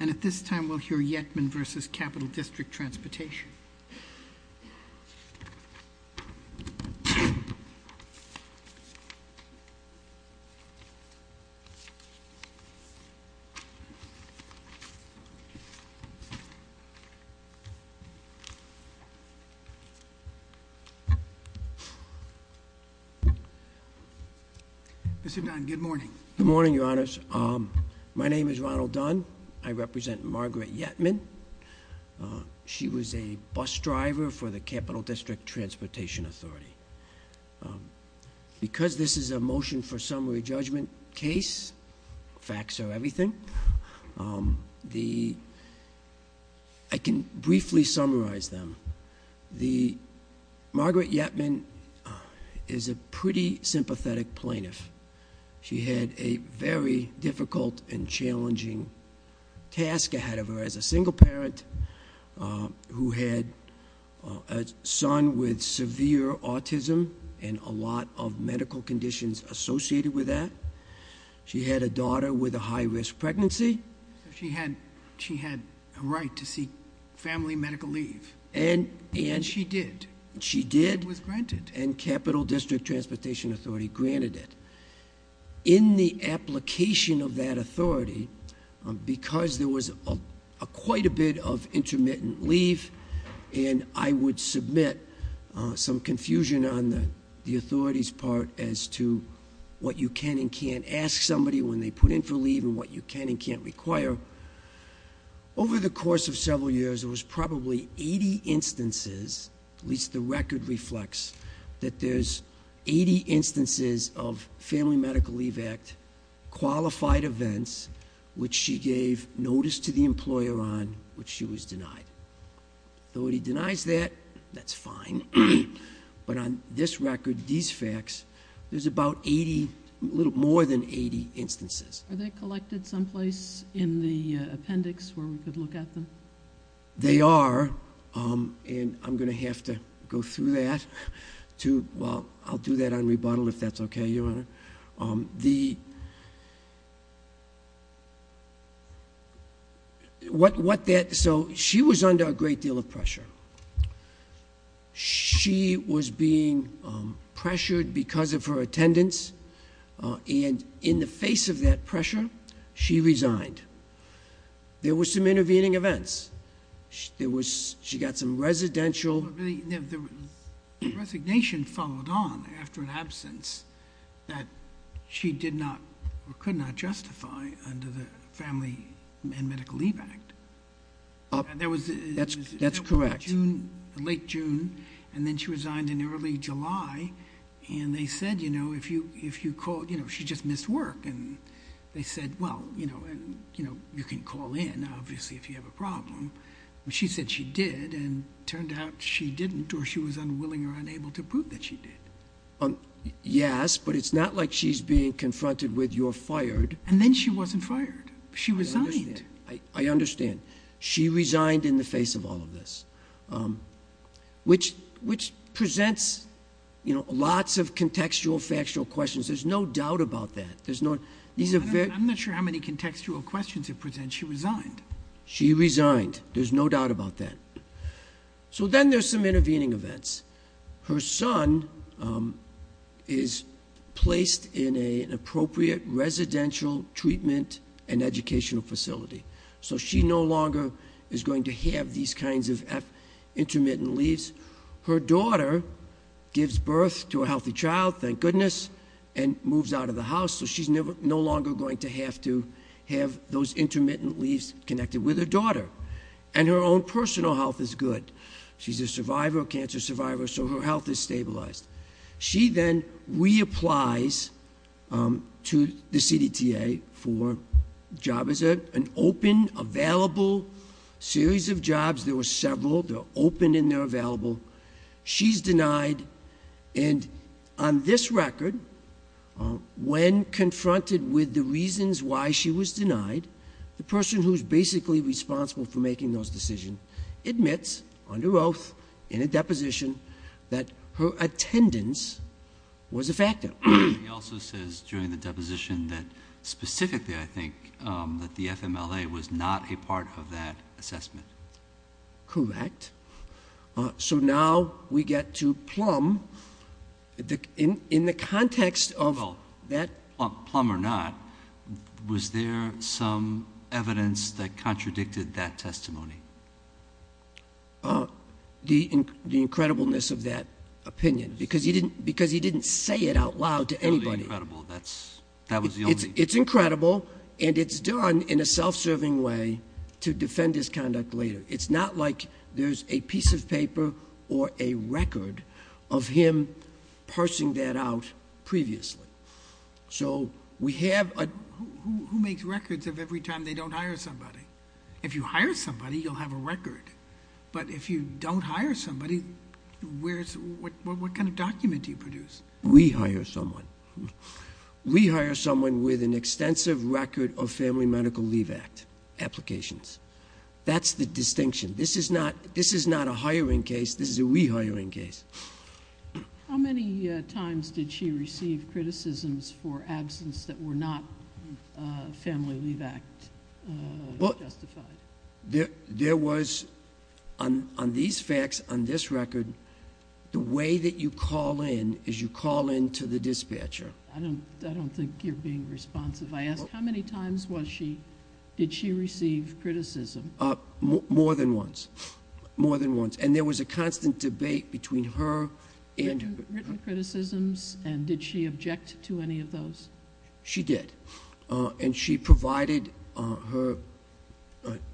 And at this time, we'll hear Yetman v. Capital District Transportation. Mr. Dunn, good morning. Good morning, Your Honors. My name is Ronald Dunn. I represent Margaret Yetman. She was a bus driver for the Capital District Transportation Authority. Because this is a motion for summary judgment case, facts are everything, I can briefly summarize them. Margaret Yetman is a pretty sympathetic plaintiff. She had a very difficult and challenging task ahead of her as a single parent, who had a son with severe autism and a lot of medical conditions associated with that. She had a daughter with a high-risk pregnancy. She had a right to seek family medical leave. She did. She did. It was granted. And Capital District Transportation Authority granted it. In the application of that authority, because there was quite a bit of intermittent leave, and I would submit some confusion on the authorities' part as to what you can and can't ask somebody when they put in for leave and what you can and can't require, over the course of several years, there was probably 80 instances, at least the record reflects, that there's 80 instances of Family Medical Leave Act qualified events, which she gave notice to the employer on, which she was denied. Authority denies that. That's fine. But on this record, these facts, there's about 80, a little more than 80 instances. Are they collected someplace in the appendix where we could look at them? They are, and I'm going to have to go through that. Well, I'll do that on rebuttal if that's okay, Your Honor. So she was under a great deal of pressure. She was being pressured because of her attendance, and in the face of that pressure, she resigned. There were some intervening events. She got some residential. The resignation followed on after an absence that she did not or could not justify under the Family and Medical Leave Act. That's correct. Late June, and then she resigned in early July, and they said, you know, if you call, you know, she just missed work, and they said, well, you know, you can call in, obviously, if you have a problem. She said she did, and it turned out she didn't, or she was unwilling or unable to prove that she did. Yes, but it's not like she's being confronted with you're fired. And then she wasn't fired. She resigned. I understand. She resigned in the face of all of this, which presents, you know, lots of contextual, factual questions. There's no doubt about that. I'm not sure how many contextual questions it presents. She resigned. She resigned. There's no doubt about that. So then there's some intervening events. Her son is placed in an appropriate residential treatment and educational facility, so she no longer is going to have these kinds of intermittent leaves. Her daughter gives birth to a healthy child, thank goodness, and moves out of the house, so she's no longer going to have to have those intermittent leaves connected with her daughter. And her own personal health is good. She's a survivor, a cancer survivor, so her health is stabilized. She then reapplies to the CDTA for a job as an open, available series of jobs. There were several. They're open and they're available. She's denied. And on this record, when confronted with the reasons why she was denied, the person who's basically responsible for making those decisions admits, under oath, in a deposition, that her attendance was a factor. He also says during the deposition that specifically, I think, that the FMLA was not a part of that assessment. Correct. So now we get to Plum. In the context of that. Plum or not, was there some evidence that contradicted that testimony? The incredibleness of that opinion, because he didn't say it out loud to anybody. That was the only. It's incredible, and it's done in a self-serving way to defend his conduct later. It's not like there's a piece of paper or a record of him parsing that out previously. So we have a... Who makes records of every time they don't hire somebody? If you hire somebody, you'll have a record. But if you don't hire somebody, what kind of document do you produce? We hire someone. We hire someone with an extensive record of Family Medical Leave Act applications. That's the distinction. This is not a hiring case. This is a we hiring case. How many times did she receive criticisms for absence that were not Family Leave Act justified? There was, on these facts, on this record, the way that you call in is you call in to the dispatcher. I don't think you're being responsive. I asked how many times did she receive criticism. More than once. More than once. And there was a constant debate between her and... Written criticisms, and did she object to any of those? She did. And she provided her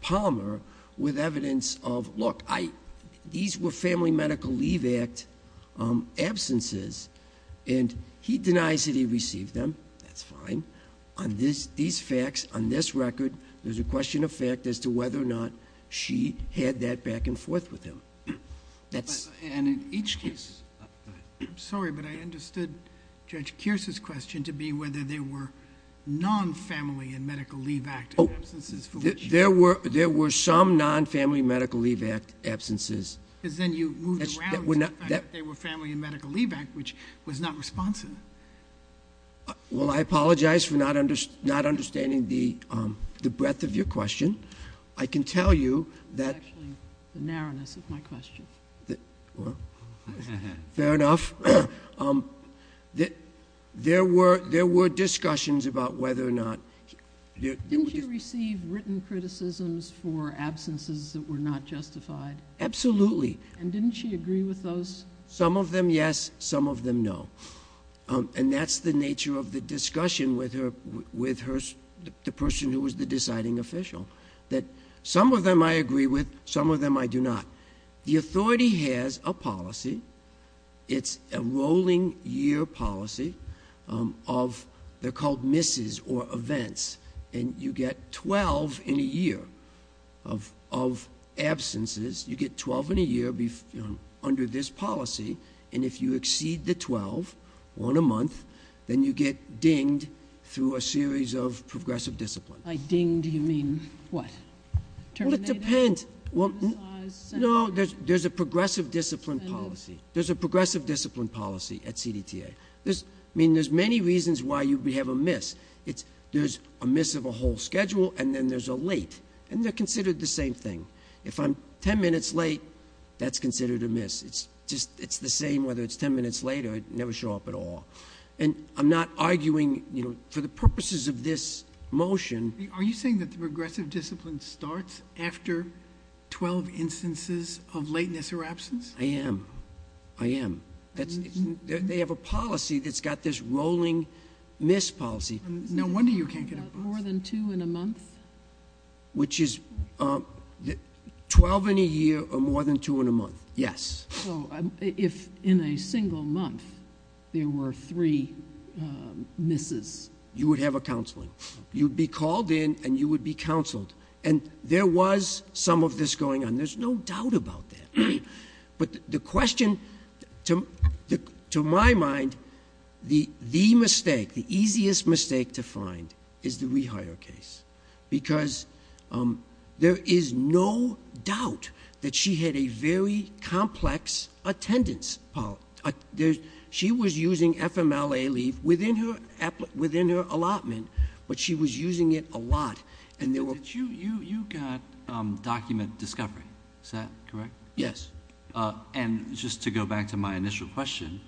Palmer with evidence of, look, these were Family Medical Leave Act absences, and he denies that he received them. That's fine. On these facts, on this record, there's a question of fact as to whether or not she had that back and forth with him. And in each case... I'm sorry, but I understood Judge Kearse's question to be whether there were non-Family Medical Leave Act absences. There were some non-Family Medical Leave Act absences. Because then you moved around to the fact that they were Family Medical Leave Act, which was not responsive. Well, I apologize for not understanding the breadth of your question. I can tell you that... That's actually the narrowness of my question. Well, fair enough. There were discussions about whether or not... Didn't she receive written criticisms for absences that were not justified? Absolutely. And didn't she agree with those? Some of them, yes. Some of them, no. And that's the nature of the discussion with the person who was the deciding official. That some of them, I agree with. Some of them, I do not. The authority has a policy. It's a rolling year policy of... They're called misses or events. And you get 12 in a year of absences. You get 12 in a year under this policy. And if you exceed the 12 on a month, then you get dinged through a series of progressive disciplines. By dinged, you mean what? Terminated? Well, it depends. No, there's a progressive discipline policy. There's a progressive discipline policy at CDTA. I mean, there's many reasons why you would have a miss. There's a miss of a whole schedule, and then there's a late. And they're considered the same thing. If I'm 10 minutes late, that's considered a miss. It's the same whether it's 10 minutes late or I never show up at all. And I'm not arguing, you know, for the purposes of this motion... Are you saying that the progressive discipline starts after 12 instances of lateness or absence? I am. I am. They have a policy that's got this rolling miss policy. No wonder you can't get a miss. More than two in a month? Which is 12 in a year or more than two in a month. Yes. So if in a single month there were three misses... You would have a counseling. You'd be called in, and you would be counseled. And there was some of this going on. There's no doubt about that. But the question, to my mind, the mistake, the easiest mistake to find, is the rehire case. Because there is no doubt that she had a very complex attendance policy. She was using FMLA leave within her allotment, but she was using it a lot. You got document discovery. Is that correct? Yes. And just to go back to my initial question,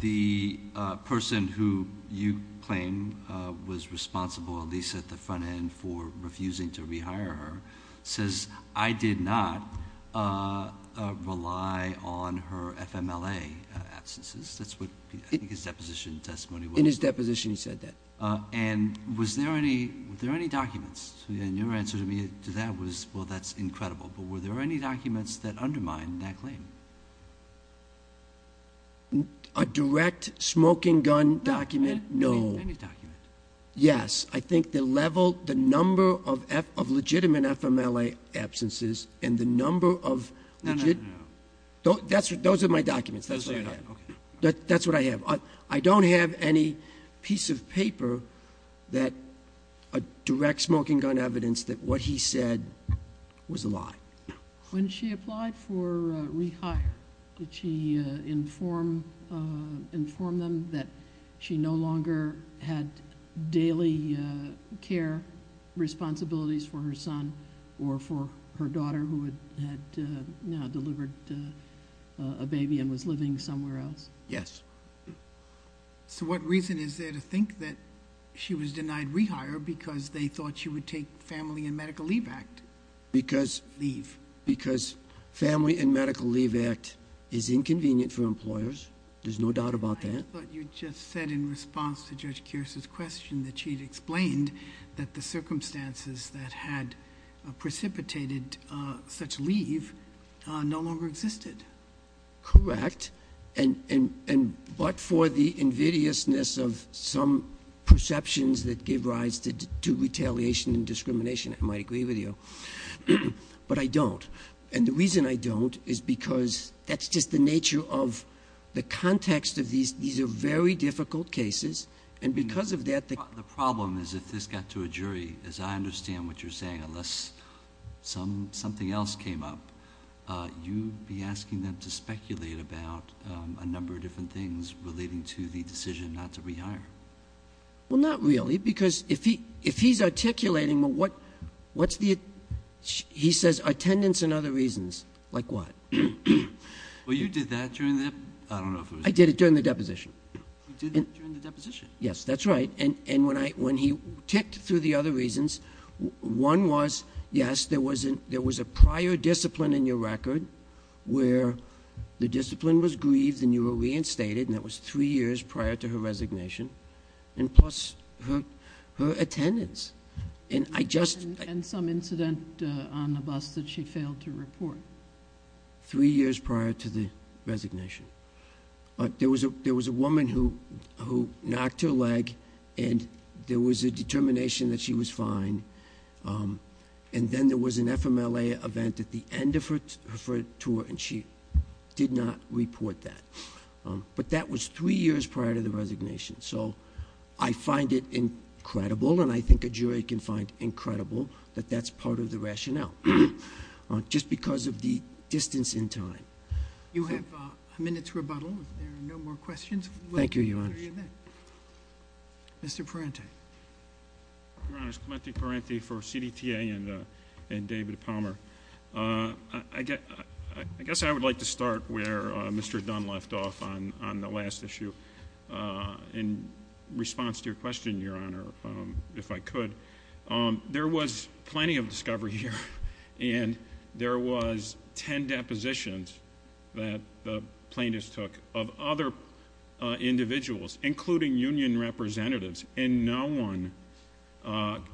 the person who you claim was responsible, at least at the front end, for refusing to rehire her says, I did not rely on her FMLA absences. That's what I think his deposition testimony was. In his deposition he said that. And was there any documents? And your answer to that was, well, that's incredible. But were there any documents that undermined that claim? A direct smoking gun document? No. Any document? Yes. I think the level, the number of legitimate FMLA absences and the number of... No, no, no. Those are my documents. Those are your documents. Okay. That's what I have. I don't have any piece of paper that directs smoking gun evidence that what he said was a lie. When she applied for rehire, did she inform them that she no longer had daily care responsibilities for her son or for her daughter who had now delivered a baby and was living somewhere else? Yes. So what reason is there to think that she was denied rehire because they thought she would take Family and Medical Leave Act? Because... Leave. Because Family and Medical Leave Act is inconvenient for employers. There's no doubt about that. But you just said in response to Judge Kearse's question that she had explained that the circumstances that had precipitated such leave no longer existed. Correct. But for the invidiousness of some perceptions that give rise to retaliation and discrimination, I might agree with you. But I don't. And the reason I don't is because that's just the nature of the context of these. These are very difficult cases. And because of that... The problem is if this got to a jury, as I understand what you're saying, unless something else came up, you'd be asking them to speculate about a number of different things relating to the decision not to rehire. Well, not really, because if he's articulating what's the... He says attendance and other reasons. Like what? Well, you did that during the... I did it during the deposition. You did it during the deposition. Yes, that's right. And when he ticked through the other reasons, one was, yes, there was a prior discipline in your record where the discipline was grieved and you were reinstated, and that was three years prior to her resignation, and plus her attendance. And I just... And some incident on the bus that she failed to report. Three years prior to the resignation. There was a woman who knocked her leg, and there was a determination that she was fine, and then there was an FMLA event at the end of her tour, and she did not report that. But that was three years prior to the resignation, so I find it incredible, and I think a jury can find incredible that that's part of the rationale, just because of the distance in time. You have a minute's rebuttal if there are no more questions. Thank you, Your Honor. Mr. Parente. Your Honor, Clemente Parente for CDTA and David Palmer. I guess I would like to start where Mr. Dunn left off on the last issue. In response to your question, Your Honor, if I could, there was plenty of discovery here, and there was ten depositions that the plaintiffs took of other individuals, including union representatives, and no one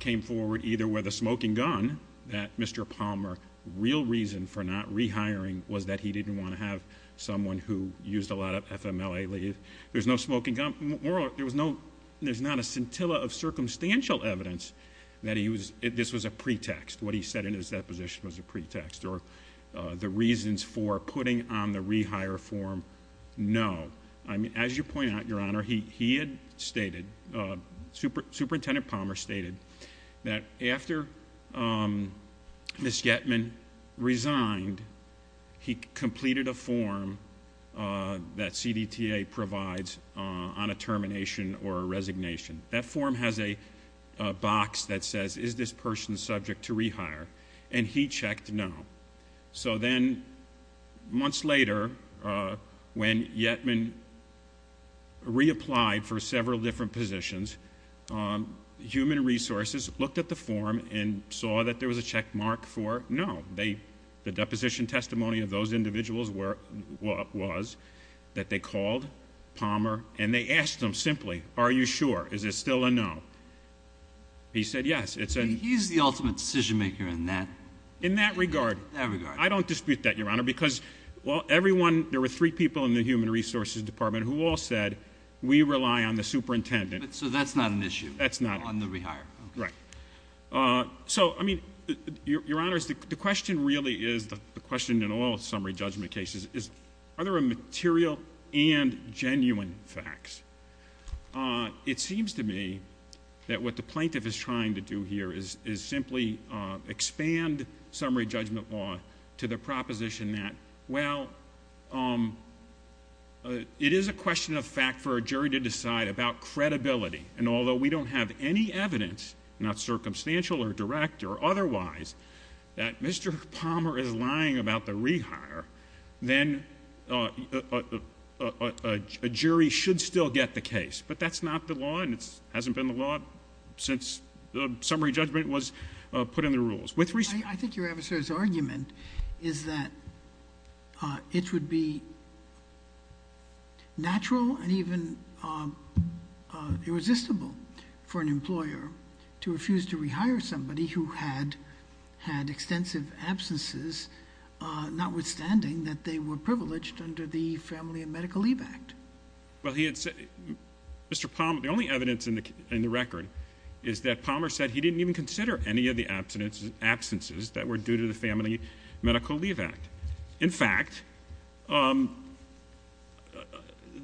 came forward either with a smoking gun that Mr. Palmer's real reason for not rehiring was that he didn't want to have someone who used a lot of FMLA leave. There's no smoking gun. There's not a scintilla of circumstantial evidence that this was a pretext, what he said in his deposition was a pretext, or the reasons for putting on the rehire form. No. As you point out, Your Honor, he had stated, Superintendent Palmer stated, that after Ms. Yetman resigned, he completed a form that CDTA provides on a termination or a resignation. That form has a box that says, is this person subject to rehire? And he checked no. So then months later, when Yetman reapplied for several different positions, Human Resources looked at the form and saw that there was a checkmark for no. The deposition testimony of those individuals was that they called Palmer, and they asked him simply, are you sure? Is it still a no? He said yes. He's the ultimate decision maker in that regard. I don't dispute that, Your Honor, because there were three people in the Human Resources Department who all said, we rely on the superintendent. So that's not an issue? That's not. On the rehire? Right. So, I mean, Your Honor, the question really is, the question in all summary judgment cases, is are there material and genuine facts? It seems to me that what the plaintiff is trying to do here is simply expand summary judgment law to the proposition that, well, it is a question of fact for a jury to decide about credibility, and although we don't have any evidence, not circumstantial or direct or otherwise, that Mr. Palmer is lying about the rehire, then a jury should still get the case. But that's not the law, and it hasn't been the law since summary judgment was put in the rules. I think your adversary's argument is that it would be natural and even irresistible for an employer to refuse to rehire somebody who had extensive absences, notwithstanding that they were privileged under the Family and Medical Leave Act. Well, Mr. Palmer, the only evidence in the record is that Palmer said he didn't even consider any of the absences that were due to the Family and Medical Leave Act. In fact,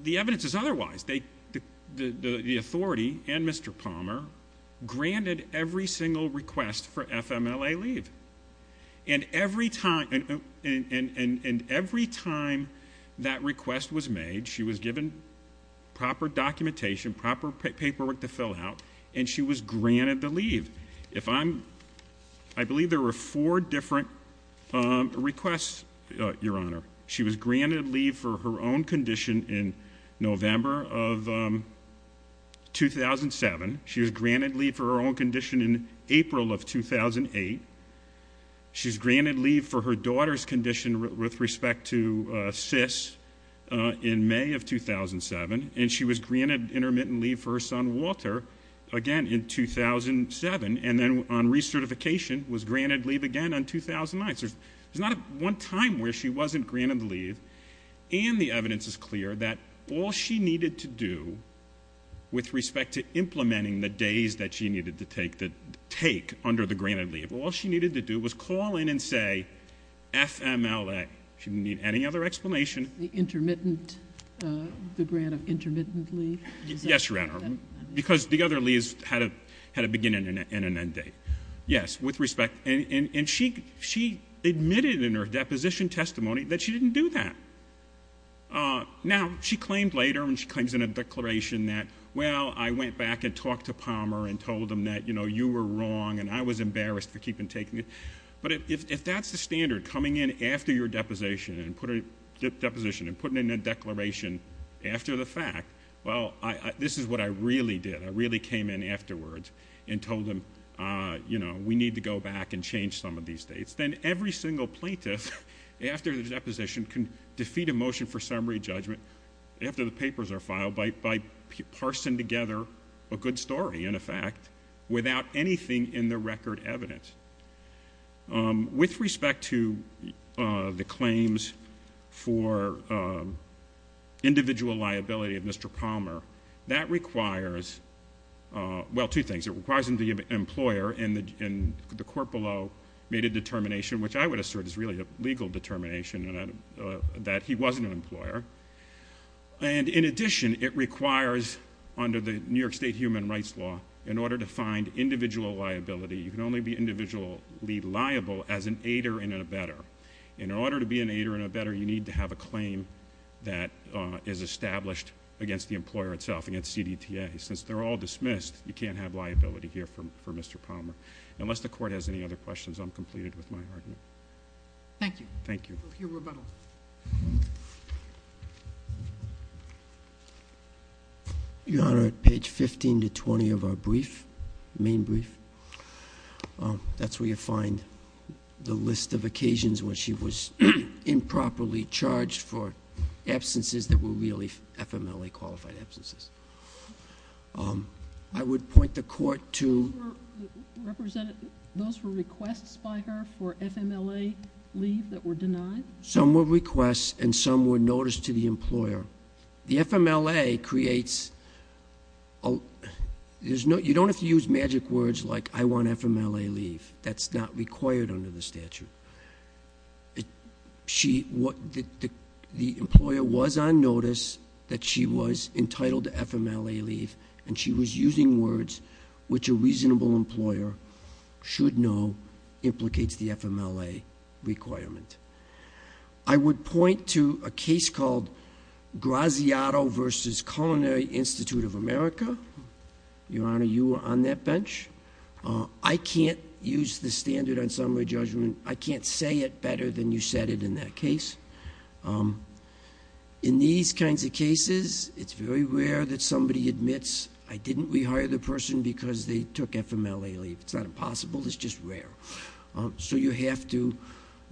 the evidence is otherwise. The authority and Mr. Palmer granted every single request for FMLA leave, and every time that request was made, she was given proper documentation, proper paperwork to fill out, and she was granted the leave. I believe there were four different requests, Your Honor. She was granted leave for her own condition in November of 2007. She was granted leave for her own condition in April of 2008. She was granted leave for her daughter's condition with respect to CIS in May of 2007, and she was granted intermittent leave for her son, Walter, again in 2007, and then on recertification was granted leave again on 2009. So there's not one time where she wasn't granted the leave, and the evidence is clear that all she needed to do with respect to implementing the days that she needed to take under the granted leave, all she needed to do was call in and say FMLA. She didn't need any other explanation. Intermittent, the grant of intermittent leave? Yes, Your Honor, because the other leaves had a beginning and an end date. Yes, with respect, and she admitted in her deposition testimony that she didn't do that. Now, she claimed later, and she claims in a declaration that, well, I went back and talked to Palmer and told him that, you know, you were wrong, and I was embarrassed for keeping taking it. But if that's the standard, coming in after your deposition and putting in a declaration after the fact, well, this is what I really did. I really came in afterwards and told him, you know, we need to go back and change some of these dates. Then every single plaintiff after the deposition can defeat a motion for summary judgment after the papers are filed by parsing together a good story and a fact without anything in the record evidence. With respect to the claims for individual liability of Mr. Palmer, that requires, well, two things. It requires him to be an employer, and the court below made a determination, which I would assert is really a legal determination, that he was an employer. And in addition, it requires under the New York State human rights law, in order to find individual liability, you can only be individually liable as an aider and a better. In order to be an aider and a better, you need to have a claim that is established against the employer itself, against CDTA. Since they're all dismissed, you can't have liability here for Mr. Palmer. Unless the court has any other questions, I'm completed with my argument. Thank you. Thank you. We'll hear rebuttal. Your Honor, at page 15 to 20 of our brief, main brief, that's where you find the list of occasions when she was improperly charged for absences that were really FMLA-qualified absences. I would point the court to... Those were requests by her for FMLA leave that were denied? Some were requests, and some were notice to the employer. The FMLA creates... You don't have to use magic words like, I want FMLA leave. That's not required under the statute. The employer was on notice that she was entitled to FMLA leave, and she was using words which a reasonable employer should know implicates the FMLA requirement. I would point to a case called Graziato v. Culinary Institute of America. Your Honor, you were on that bench. I can't use the standard on summary judgment. I can't say it better than you said it in that case. In these kinds of cases, it's very rare that somebody admits, I didn't rehire the person because they took FMLA leave. It's not impossible. It's just rare. You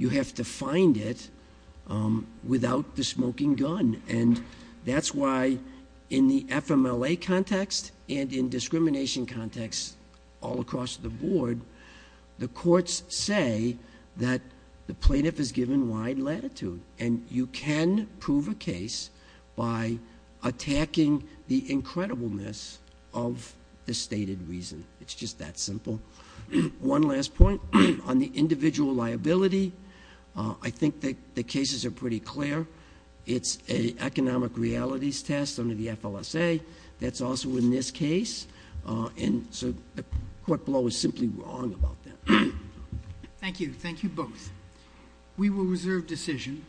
have to find it without the smoking gun. That's why in the FMLA context and in discrimination context all across the board, the courts say that the plaintiff is given wide latitude, and you can prove a case by attacking the incredibleness of the stated reason. It's just that simple. One last point on the individual liability. I think the cases are pretty clear. It's an economic realities test under the FLSA. That's also in this case. So the court below is simply wrong about that. Thank you. Thank you both. We will reserve decision.